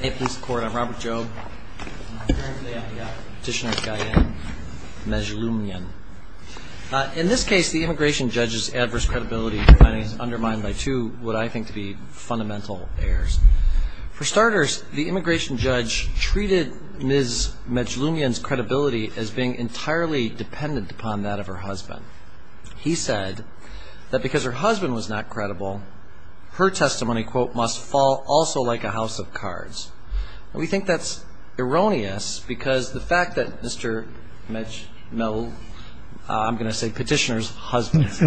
I'm Robert Jobe, and I'm here today on behalf of Petitioner Gayane Mezlumyan. In this case, the immigration judge's adverse credibility finding is undermined by two what I think to be fundamental errors. For starters, the immigration judge treated Ms. Mezlumyan's credibility as being entirely dependent upon that of her husband. He said that because her husband was not credible, her testimony, quote, must fall also like a house of cards. We think that's erroneous because the fact that Mr. Mezlumyan, I'm going to say Petitioner's husband's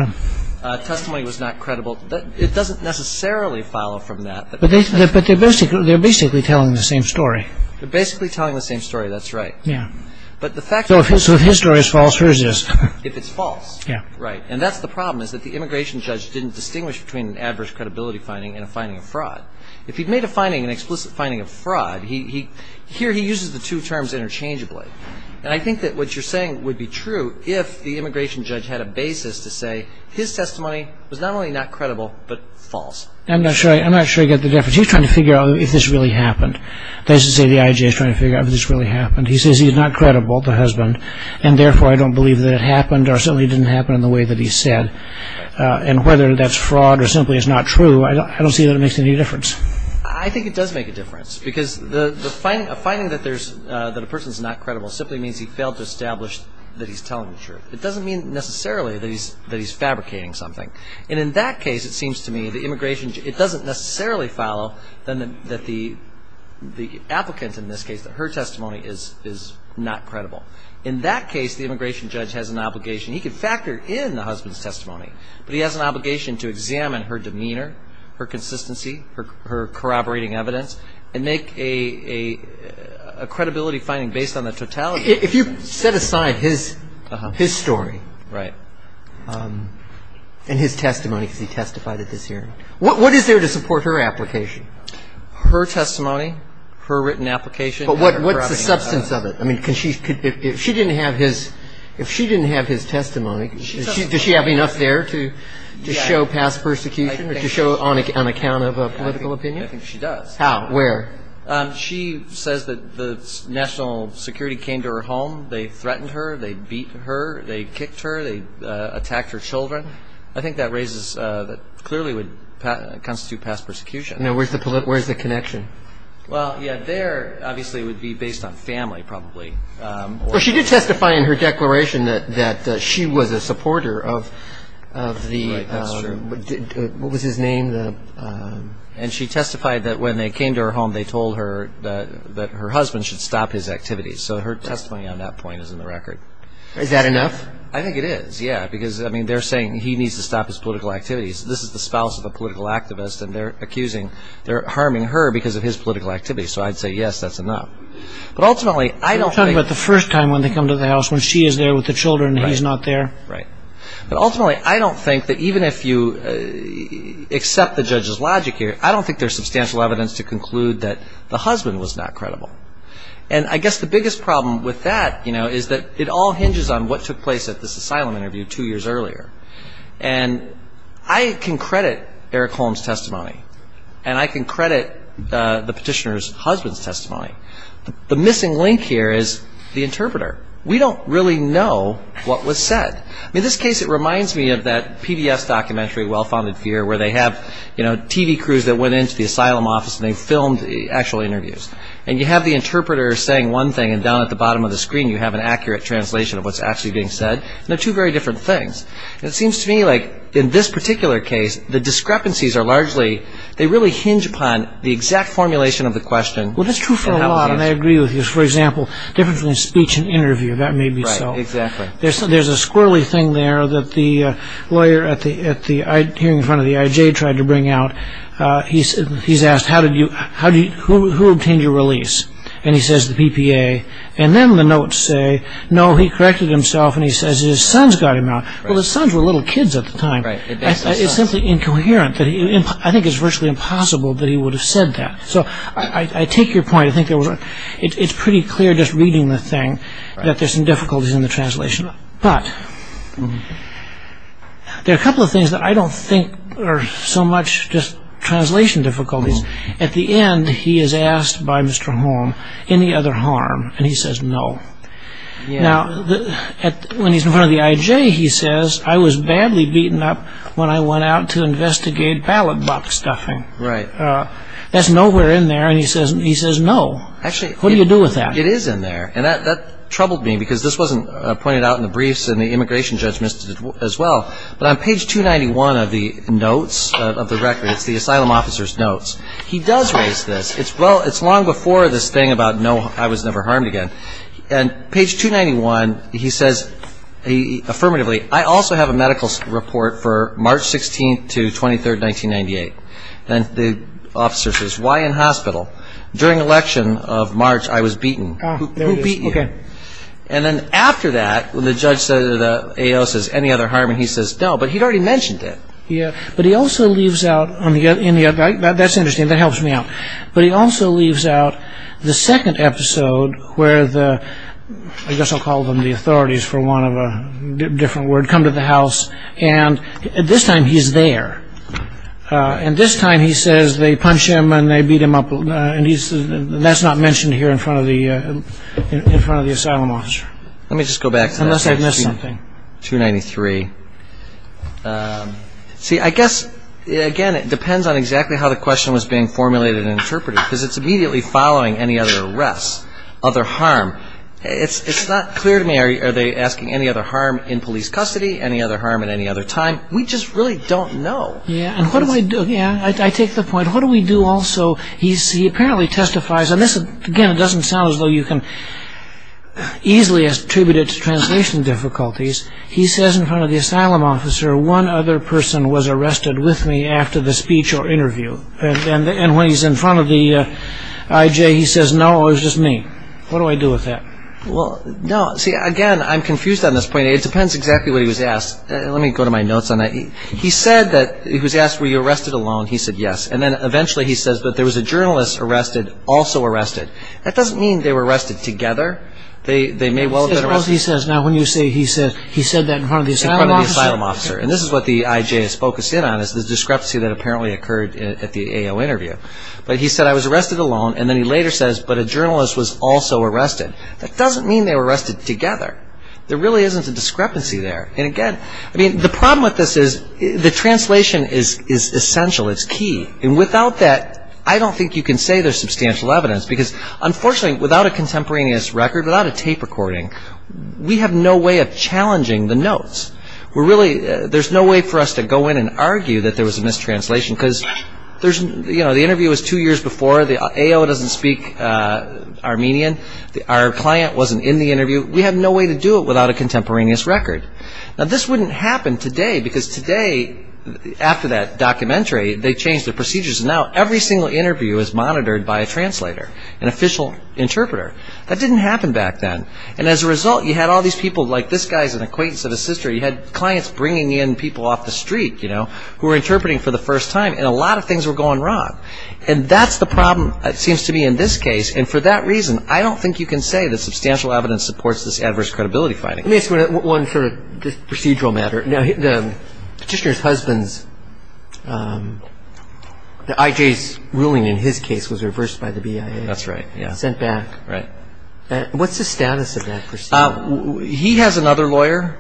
testimony was not credible, it doesn't necessarily follow from that. But they're basically telling the same story. They're basically telling the same story. That's right. Yeah. So if his story is false, hers is. If it's false. Yeah. Right. And that's the problem, is that the immigration judge didn't distinguish between an adverse credibility finding and a finding of fraud. If he'd made a finding, an explicit finding of fraud, here he uses the two terms interchangeably. And I think that what you're saying would be true if the immigration judge had a basis to say his testimony was not only not credible, but false. I'm not sure I get the difference. He's trying to figure out if this really happened. That is to say, the IJ is trying to figure out if this really happened. He says he's not credible, the husband, and therefore, I don't believe that it happened or certainly didn't happen in the way that he said. And whether that's fraud or simply is not true, I don't see that it makes any difference. I think it does make a difference because a finding that a person's not credible simply means he failed to establish that he's telling the truth. It doesn't mean necessarily that he's fabricating something. And in that case, it seems to me, the immigration judge, it doesn't necessarily follow that the applicant in this case, that her testimony is not credible. In that case, the immigration judge has an obligation. He can factor in the husband's testimony, but he has an obligation to examine her demeanor, her consistency, her corroborating evidence, and make a credibility finding based on the totality. If you set aside his story and his testimony because he testified at this hearing, what is there to support her application? Her testimony, her written application. But what's the substance of it? I mean, if she didn't have his testimony, does she have enough there to show past persecution or to show on account of a political opinion? I think she does. How? Where? She says that the national security came to her home. They threatened her. They beat her. They kicked her. They attacked her children. I think that clearly would constitute past persecution. Now, where's the connection? Well, yeah, there, obviously, would be based on family, probably. Well, she did testify in her declaration that she was a supporter of the, what was his name? And she testified that when they came to her home, they told her that her husband should stop his activities. So her testimony on that point is in the record. Is that enough? I think it is, yeah. Because, I mean, they're saying he needs to stop his political activities. This is the spouse of a political activist, and they're accusing, they're harming her because of his political activities. So I'd say, yes, that's enough. But ultimately, I don't think. You're talking about the first time when they come to the house, when she is there with the children and he's not there? Right. But ultimately, I don't think that even if you accept the judge's logic here, I don't think there's substantial evidence to conclude that the husband was not credible. And I guess the biggest problem with that, you know, is that it all hinges on what took place at this asylum interview two years earlier. And I can credit Eric Holmes' testimony. And I can credit the petitioner's husband's testimony. The missing link here is the interpreter. We don't really know what was said. In this case, it reminds me of that PBS documentary, Well-Founded Fear, where they have, you know, TV crews that went into the asylum office and they filmed the actual interviews. And you have the interpreter saying one thing, and down at the bottom of the screen, you have an accurate translation of what's actually being said. And they're two very different things. It seems to me like in this particular case, the discrepancies are largely, they really hinge upon the exact formulation of the question. Well, that's true for a lot, and I agree with you. For example, different from the speech and interview, that may be so. Exactly. There's a squirrely thing there that the lawyer here in front of the IJ tried to bring out. He's asked, who obtained your release? And he says, the PPA. And then the notes say, no, he corrected himself. And he says, his sons got him out. Well, his sons were little kids at the time. Right. It's simply incoherent. I think it's virtually impossible that he would have said that. So I take your point. I think it's pretty clear just reading the thing that there's some difficulties in the translation. But there are a couple of things that I don't think are so much just translation difficulties. At the end, he is asked by Mr. Holm, any other harm? And he says, no. Now, when he's in front of the IJ, he says, I was badly beaten up when I went out to investigate ballot box stuffing. Right. That's nowhere in there. And he says, no. Actually, what do you do with that? It is in there. And that troubled me, because this wasn't pointed out in the briefs and the immigration judge missed it as well. But on page 291 of the notes of the record, it's the asylum officer's notes, he does raise this. It's well, it's long before this thing about no, I was never harmed again. And page 291, he says, affirmatively, I also have a medical report for March 16th to 23rd, 1998. And the officer says, why in hospital? During election of March, I was beaten. Who beat you? Okay. And then after that, when the judge says, any other harm? And he says, no. But he'd already mentioned it. Yeah. But he also leaves out, that's interesting, that helps me out. But he also leaves out the second episode, where the, I guess I'll call them the authorities, for want of a different word, come to the house. And this time, he's there. And this time, he says, they punch him and they beat him up. And he says, that's not mentioned here in front of the asylum officer. Let me just go back to that section. 293. See, I guess, again, it depends on exactly how the question was being formulated and interpreted, because it's immediately following any other arrest, other harm. It's not clear to me, are they asking any other harm in police custody, any other harm at any other time? We just really don't know. Yeah. And what do I do? Yeah. I take the point. What do we do also? He apparently testifies. And this, again, doesn't sound as though you can easily attribute it to translation difficulties. He says in front of the asylum officer, one other person was arrested with me after the speech or interview, and when he's in front of the IJ, he says, no, it was just me. What do I do with that? Well, no. See, again, I'm confused on this point. It depends exactly what he was asked. Let me go to my notes on that. He said that, he was asked, were you arrested alone? He said, yes. And then, eventually, he says, but there was a journalist arrested, also arrested. That doesn't mean they were arrested together. They may well have been arrested. Suppose he says, now, when you say he said, he said that in front of the asylum officer. And this is what the IJ is focused in on, is the discrepancy that apparently occurred at the AO interview. But he said, I was arrested alone. And then, he later says, but a journalist was also arrested. That doesn't mean they were arrested together. There really isn't a discrepancy there. And, again, I mean, the problem with this is the translation is essential. It's key. And without that, I don't think you can say there's substantial evidence. Because, unfortunately, without a contemporaneous record, without a tape recording, we have no way of challenging the notes. We're really, there's no way for us to go in and argue that there was a mistranslation. Because there's, you know, the interview was two years before. The AO doesn't speak Armenian. Our client wasn't in the interview. We have no way to do it without a contemporaneous record. Now, this wouldn't happen today. Because today, after that documentary, they changed the procedures. Now, every single interview is monitored by a translator, an official interpreter. That didn't happen back then. And, as a result, you had all these people, like this guy's an acquaintance of his sister. You had clients bringing in people off the street, you know, who were interpreting for the first time. And a lot of things were going wrong. And that's the problem, it seems to me, in this case. And, for that reason, I don't think you can say that substantial evidence supports this adverse credibility finding. Let me ask you one sort of procedural matter. Now, the petitioner's husband's, the IJ's ruling in his case was reversed by the BIA. That's right, yeah. Sent back. Right. What's the status of that procedure? He has another lawyer.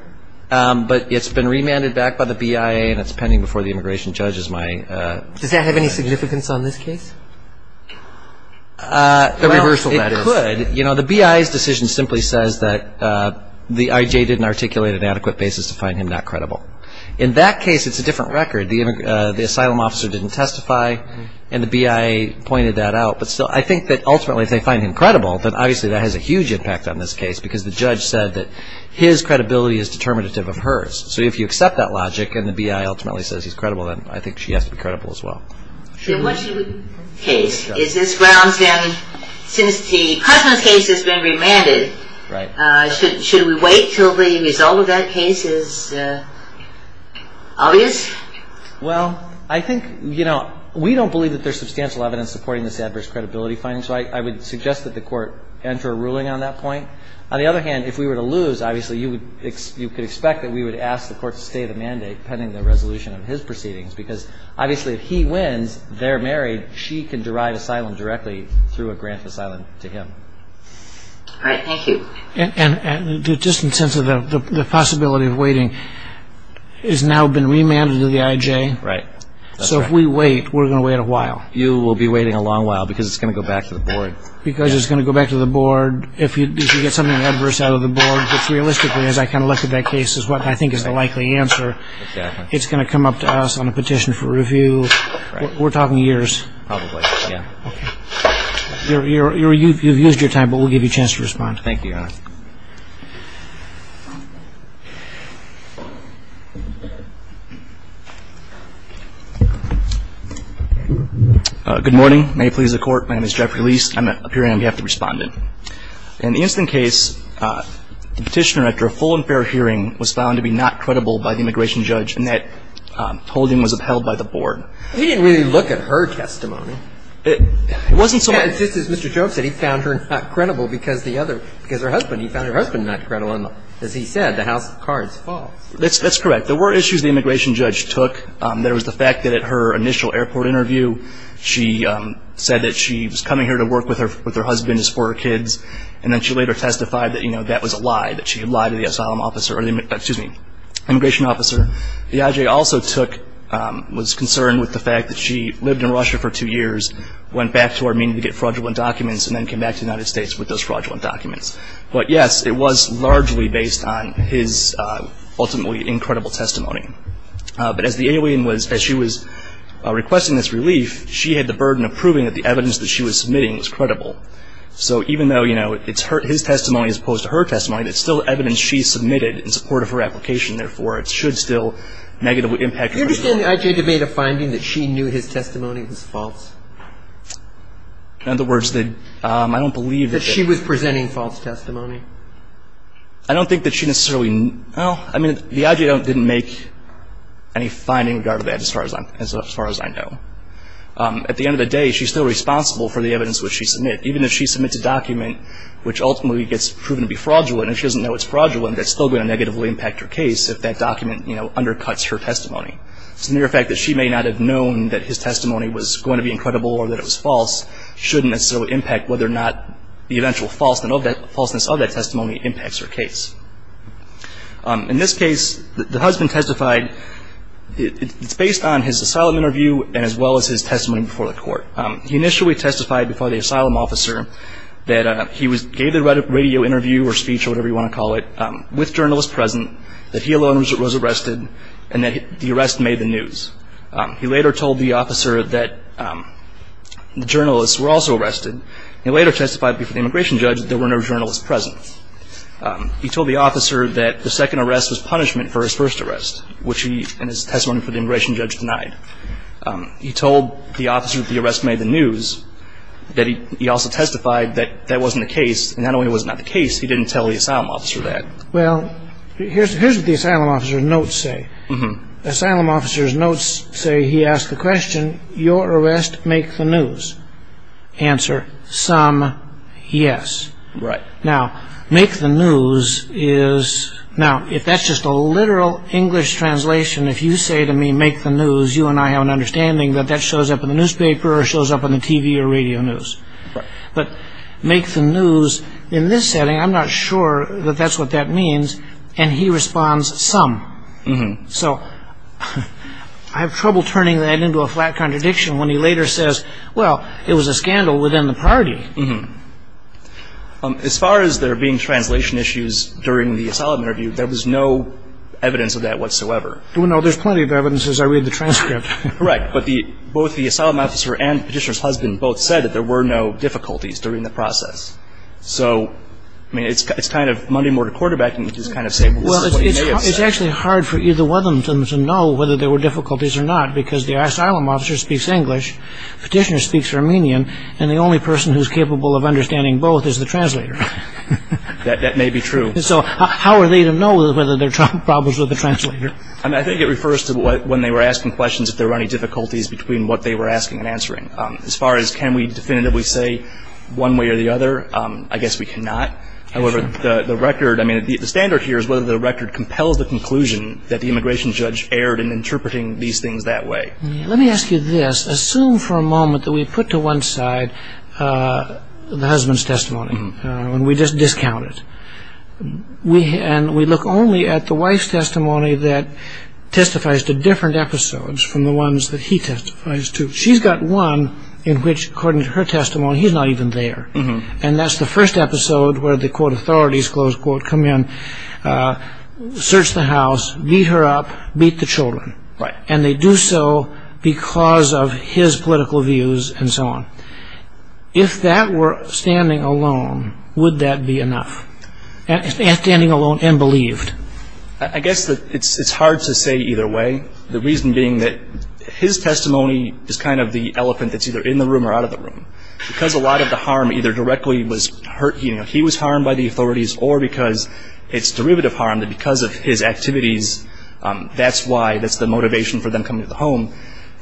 But it's been remanded back by the BIA. And it's pending before the immigration judge as my... Does that have any significance on this case? The reversal, that is. Well, it could. You know, the BIA's decision simply says that the IJ didn't articulate an adequate basis to find him not credible. In that case, it's a different record. The asylum officer didn't testify. And the BIA pointed that out. But still, I think that, ultimately, if they find him credible, then, obviously, that has a huge impact on this case. Because the judge said that his credibility is determinative of hers. So if you accept that logic, and the BIA ultimately says he's credible, then I think she has to be credible as well. So what's your case? Is this grounds then, since the husband's case has been remanded, should we wait until the result of that case is obvious? Well, I think, you know, we don't believe that there's substantial evidence supporting this adverse credibility finding. So I would suggest that the court enter a ruling on that point. On the other hand, if we were to lose, obviously, you could expect that we would ask the court to stay the mandate pending the resolution of his proceedings. Because, obviously, if he wins, they're married, she can derive asylum directly through a grant of asylum to him. All right. Thank you. And just in terms of the possibility of waiting, it's now been remanded to the IJ. Right. So if we wait, we're going to wait a while. You will be waiting a long while because it's going to go back to the board. Because it's going to go back to the board. If you get something adverse out of the board, which, realistically, as I kind of looked at that case, is what I think is the likely answer. It's going to come up to us on a petition for review. We're talking years. Probably, yeah. Okay. You've used your time, but we'll give you a chance to respond. Thank you, Your Honor. Good morning. May it please the court. My name is Jeffrey Lise. I'm appearing on behalf of the respondent. In the instant case, the petitioner, after a full and fair hearing, was found to be not credible by the immigration judge. And that holding was upheld by the board. He didn't really look at her testimony. It wasn't so much. Just as Mr. Choke said, he found her not credible because the other, because her husband. He found her husband not credible. And as he said, the house of cards is false. That's correct. There were issues the immigration judge took. There was the fact that at her initial airport interview, she said that she was coming here to work with her husband as for her kids. And then she later testified that, you know, that was a lie. That she had lied to the asylum officer or the, excuse me, immigration officer. The IJ also took, was concerned with the fact that she lived in Russia for two years, went back to Armenia to get fraudulent documents, and then came back to the United States with those fraudulent documents. But yes, it was largely based on his ultimately incredible testimony. But as the alien was, as she was requesting this relief, she had the burden of proving that the evidence that she was submitting was credible. So even though, you know, it's her, his testimony as opposed to her testimony, it's still evidence she submitted in support of her application. Therefore, it should still negatively impact. Do you understand the IJ debate a finding that she knew his testimony was false? In other words, I don't believe that. She was presenting false testimony. I don't think that she necessarily, well, I mean, the IJ didn't make any finding regarding that as far as I know. At the end of the day, she's still responsible for the evidence which she submitted. Even if she submits a document which ultimately gets proven to be fraudulent, and she doesn't know it's fraudulent, that's still going to negatively impact her case if that document, you know, undercuts her testimony. It's the mere fact that she may not have known that his testimony was going to be incredible or that it was false, shouldn't necessarily impact whether or not the eventual falseness of that testimony impacts her case. In this case, the husband testified, it's based on his asylum interview and as well as his testimony before the court. He initially testified before the asylum officer that he gave the radio interview or speech or whatever you want to call it, with journalists present, that he alone was arrested, and that the arrest made the news. He later told the officer that the journalists were also arrested. He later testified before the immigration judge that there were no journalists present. He told the officer that the second arrest was punishment for his first arrest, which he, in his testimony for the immigration judge, denied. He told the officer that the arrest made the news, that he also testified that that wasn't the case, and not only was it not the case, he didn't tell the asylum officer that. Well, here's what the asylum officer's notes say. The asylum officer's notes say he asked the question, your arrest make the news? Answer, some, yes. Right. Now, make the news is, now, if that's just a literal English translation, if you say to me, make the news, you and I have an understanding that that shows up in the newspaper or shows up on the TV or radio news. Right. But make the news, in this setting, I'm not sure that that's what that means, and he responds, some. So I have trouble turning that into a flat contradiction when he later says, well, it was a scandal within the party. As far as there being translation issues during the asylum interview, there was no evidence of that whatsoever. Well, no, there's plenty of evidence as I read the transcript. Correct. But both the asylum officer and Petitioner's husband both said that there were no difficulties during the process. So, I mean, it's kind of Monday-morning quarterbacking, which is kind of saying, well, this is what he may have said. Well, it's actually hard for either one of them to know whether there were difficulties or not, because the asylum officer speaks English, Petitioner speaks Armenian, and the only person who's capable of understanding both is the translator. That may be true. So how are they to know whether there are problems with the translator? I think it refers to when they were asking questions, if there were any difficulties between what they were asking and answering. As far as can we definitively say one way or the other, I guess we cannot. However, the record, I mean, the standard here is whether the record compels the conclusion that the immigration judge erred in interpreting these things that way. Let me ask you this. Assume for a moment that we put to one side the husband's testimony and we just discount it, and we look only at the wife's testimony that testifies to different episodes from the ones that he testifies to. She's got one in which, according to her testimony, he's not even there, and that's the first episode where the, quote, authorities, close quote, come in, search the house, beat her up, beat the children, and they do so because of his political views and so on. If that were standing alone, would that be enough, standing alone and believed? I guess that it's hard to say either way, the reason being that his testimony is kind of the elephant that's either in the room or out of the room, because a lot of the harm either directly was hurt, you know, he was harmed by the authorities, or because it's derivative harm that because of his activities, that's why, that's the motivation for them coming to the home.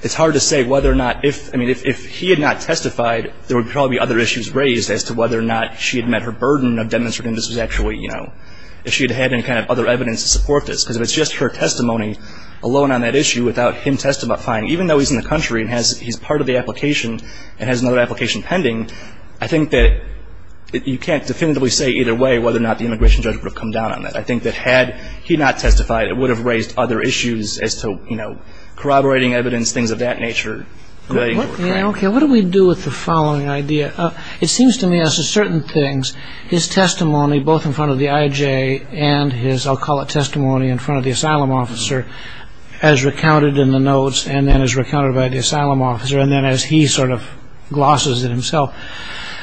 It's hard to say whether or not if, I mean, if he had not testified, there would probably be other issues raised as to whether or not she had met her burden of demonstrating this was actually, you know, if she had had any kind of other evidence to support this, because if it's just her testimony alone on that issue without him testifying, even though he's in the country and he's part of the application and has another application pending, I think that you can't definitively say either way whether or not the immigration judge would have come down on that. I think that had he not testified, it would have raised other issues as to, you know, corroborating evidence, things of that nature. Okay, what do we do with the following idea? It seems to me as to certain things, his testimony both in front of the IJ and his, I'll call it testimony, in front of the asylum officer as recounted in the notes and then as recounted by the asylum officer and then as he sort of glosses it himself.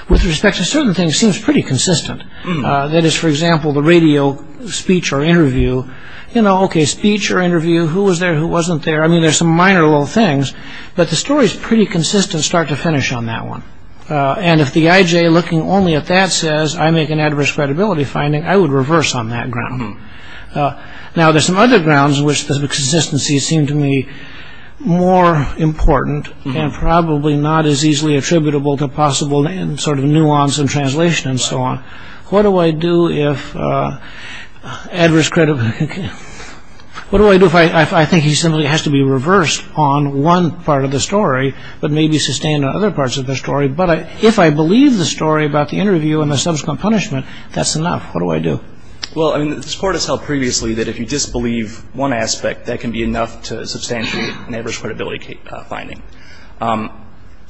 With respect to certain things, it seems pretty consistent. That is, for example, the radio speech or interview, you know, okay, speech or interview, who was there, who wasn't there, I mean, there's some minor little things, but the story's pretty consistent start to finish on that one. And if the IJ looking only at that says, I make an adverse credibility finding, I would reverse on that ground. Now, there's some other grounds in which the consistency seemed to me more important and probably not as easily attributable to possible sort of nuance and translation and so on. What do I do if adverse credibility... What do I do if I think he simply has to be reversed on one part of the story but maybe sustained on other parts of the story, but if I believe the story about the interview and the subsequent punishment, that's enough. What do I do? Well, I mean, this Court has held previously that if you disbelieve one aspect, that can be enough to substantiate an adverse credibility finding.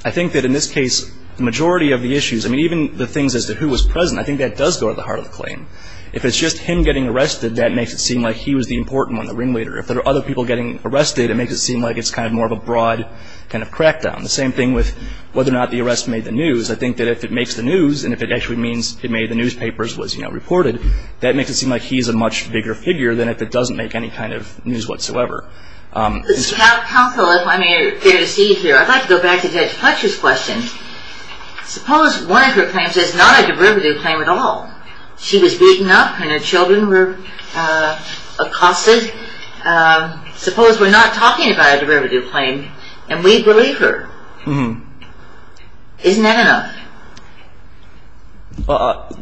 I think that in this case, the majority of the issues, I mean, even the things as to who was present, I think that does go to the heart of the claim. If it's just him getting arrested, that makes it seem like he was the important one, the ringleader. If there are other people getting arrested, it makes it seem like it's kind of more of a broad kind of crackdown. The same thing with whether or not the arrest made the news. I think that if it makes the news and if it actually means it made the newspapers, was reported, that makes it seem like he's a much bigger figure than if it doesn't make any kind of news whatsoever. Counsel, if I may, it's fair to see you here. I'd like to go back to Judge Fletcher's question. Suppose one of her claims is not a derivative claim at all. She was beaten up and her children were accosted. Suppose we're not talking about a derivative claim and we believe her. Isn't that enough?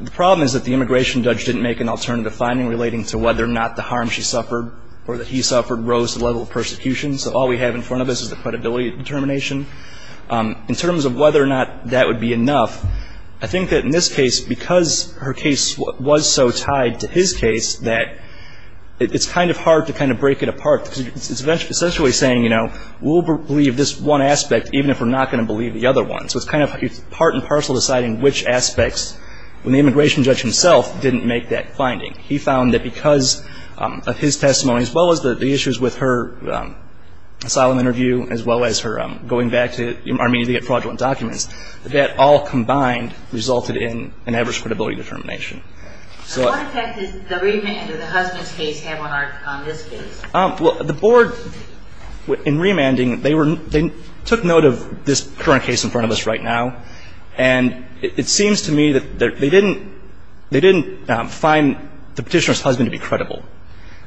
The problem is that the immigration judge didn't make an alternative finding relating to whether or not the harm she suffered or that he suffered rose to the level of persecution. So all we have in front of us is the credibility determination. In terms of whether or not that would be enough, I think that in this case, because her case was so tied to his case that it's kind of hard to kind of break it apart. It's essentially saying, you know, we'll believe this one aspect even if we're not going to believe the other one. So it's kind of part and parcel deciding which aspects when the immigration judge himself didn't make that finding. He found that because of his testimony, as well as the issues with her asylum interview, as well as her going back to Armenia to get fraudulent documents, that all combined resulted in an average credibility determination. And what effect did the remand of the husband's case have on this case? Well, the board in remanding, they took note of this current case in front of us right now. And it seems to me that they didn't find the Petitioner's husband to be credible.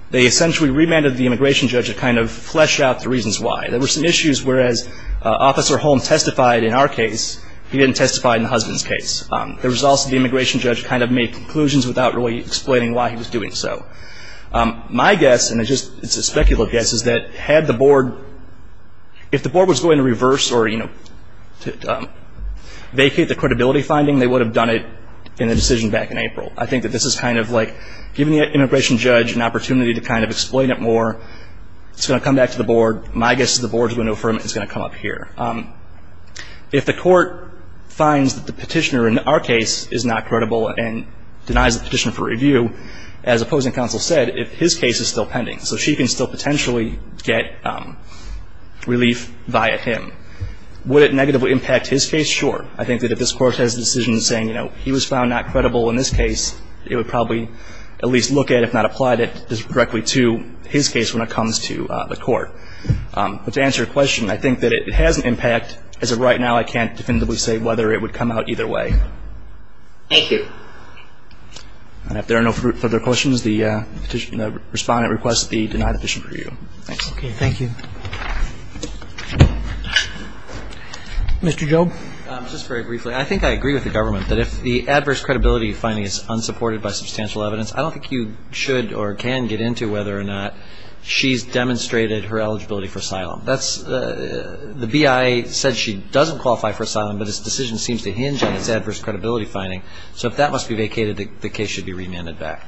They essentially remanded the immigration judge to kind of flesh out the reasons why. There were some issues whereas Officer Holm testified in our case. He didn't testify in the husband's case. The results of the immigration judge kind of made conclusions without really explaining why he was doing so. My guess, and it's just a speculative guess, is that had the board, if the board was going to reverse or, you know, vacate the credibility finding, they would have done it in the decision back in April. I think that this is kind of like giving the immigration judge an opportunity to kind of explain it more. It's going to come back to the board. My guess is the board is going to affirm it. It's going to come up here. If the court finds that the Petitioner in our case is not credible and denies the Petitioner for review, as opposing counsel said, if his case is still pending, so she can still potentially get relief via him, would it negatively impact his case? Sure. I think that if this Court has a decision saying, you know, he was found not credible in this case, it would probably at least look at, if not apply it directly to his case when it comes to the Court. But to answer your question, I think that it has an impact. As of right now, I can't definitively say whether it would come out either way. Thank you. And if there are no further questions, the Respondent requests the denied petition for review. Okay. Thank you. Mr. Job. Just very briefly, I think I agree with the government that if the adverse credibility finding is unsupported by substantial evidence, I don't think you should or can get into whether or not she's demonstrated her eligibility for asylum. The BIA said she doesn't qualify for asylum, but this decision seems to hinge on its adverse credibility finding, so if that must be vacated, the case should be remanded back.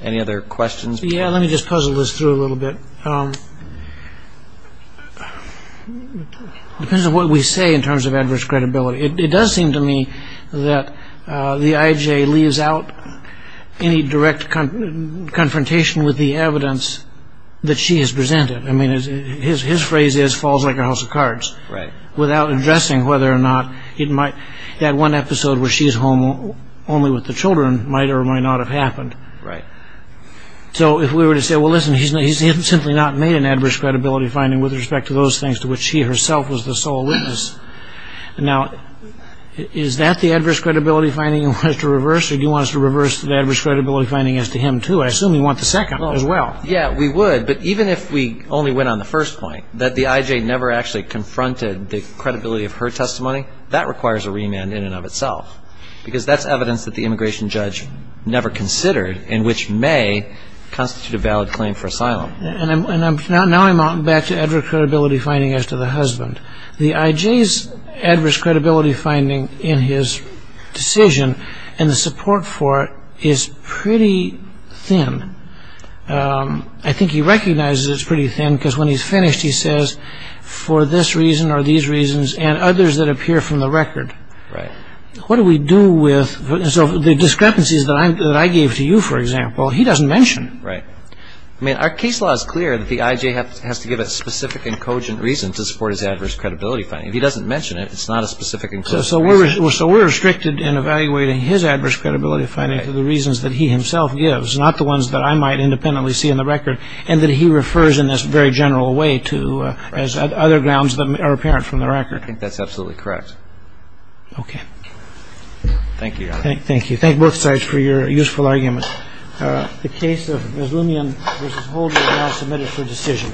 Any other questions? Yeah, let me just puzzle this through a little bit. Depends on what we say in terms of adverse credibility. It does seem to me that the IJ leaves out any direct confrontation with the evidence that she has presented. I mean, his phrase is, falls like a house of cards. Right. Without addressing whether or not that one episode where she's home only with the children might or might not have happened. Right. So if we were to say, well, listen, he's simply not made an adverse credibility finding with respect to those things to which she herself was the sole witness. Now, is that the adverse credibility finding you want us to reverse, or do you want us to reverse the adverse credibility finding as to him, too? I assume you want the second as well. Yeah, we would. But even if we only went on the first point, that the IJ never actually confronted the credibility of her testimony, that requires a remand in and of itself, because that's evidence that the immigration judge never considered and which may constitute a valid claim for asylum. And now I'm back to adverse credibility finding as to the husband. The IJ's adverse credibility finding in his decision and the support for it is pretty thin. I think he recognizes it's pretty thin because when he's finished, he says, for this reason or these reasons and others that appear from the record. Right. What do we do with the discrepancies that I gave to you, for example, he doesn't mention. Right. I mean, our case law is clear that the IJ has to give a specific and cogent reason to support his adverse credibility finding. If he doesn't mention it, it's not a specific and cogent reason. So we're restricted in evaluating his adverse credibility finding for the reasons that he himself gives, not the ones that I might independently see in the record, and that he refers in this very general way to as other grounds that are apparent from the record. I think that's absolutely correct. Okay. Thank you, Your Honor. Thank you. Thank both sides for your useful argument. The case of Mazloumian v. Holden is now submitted for decision.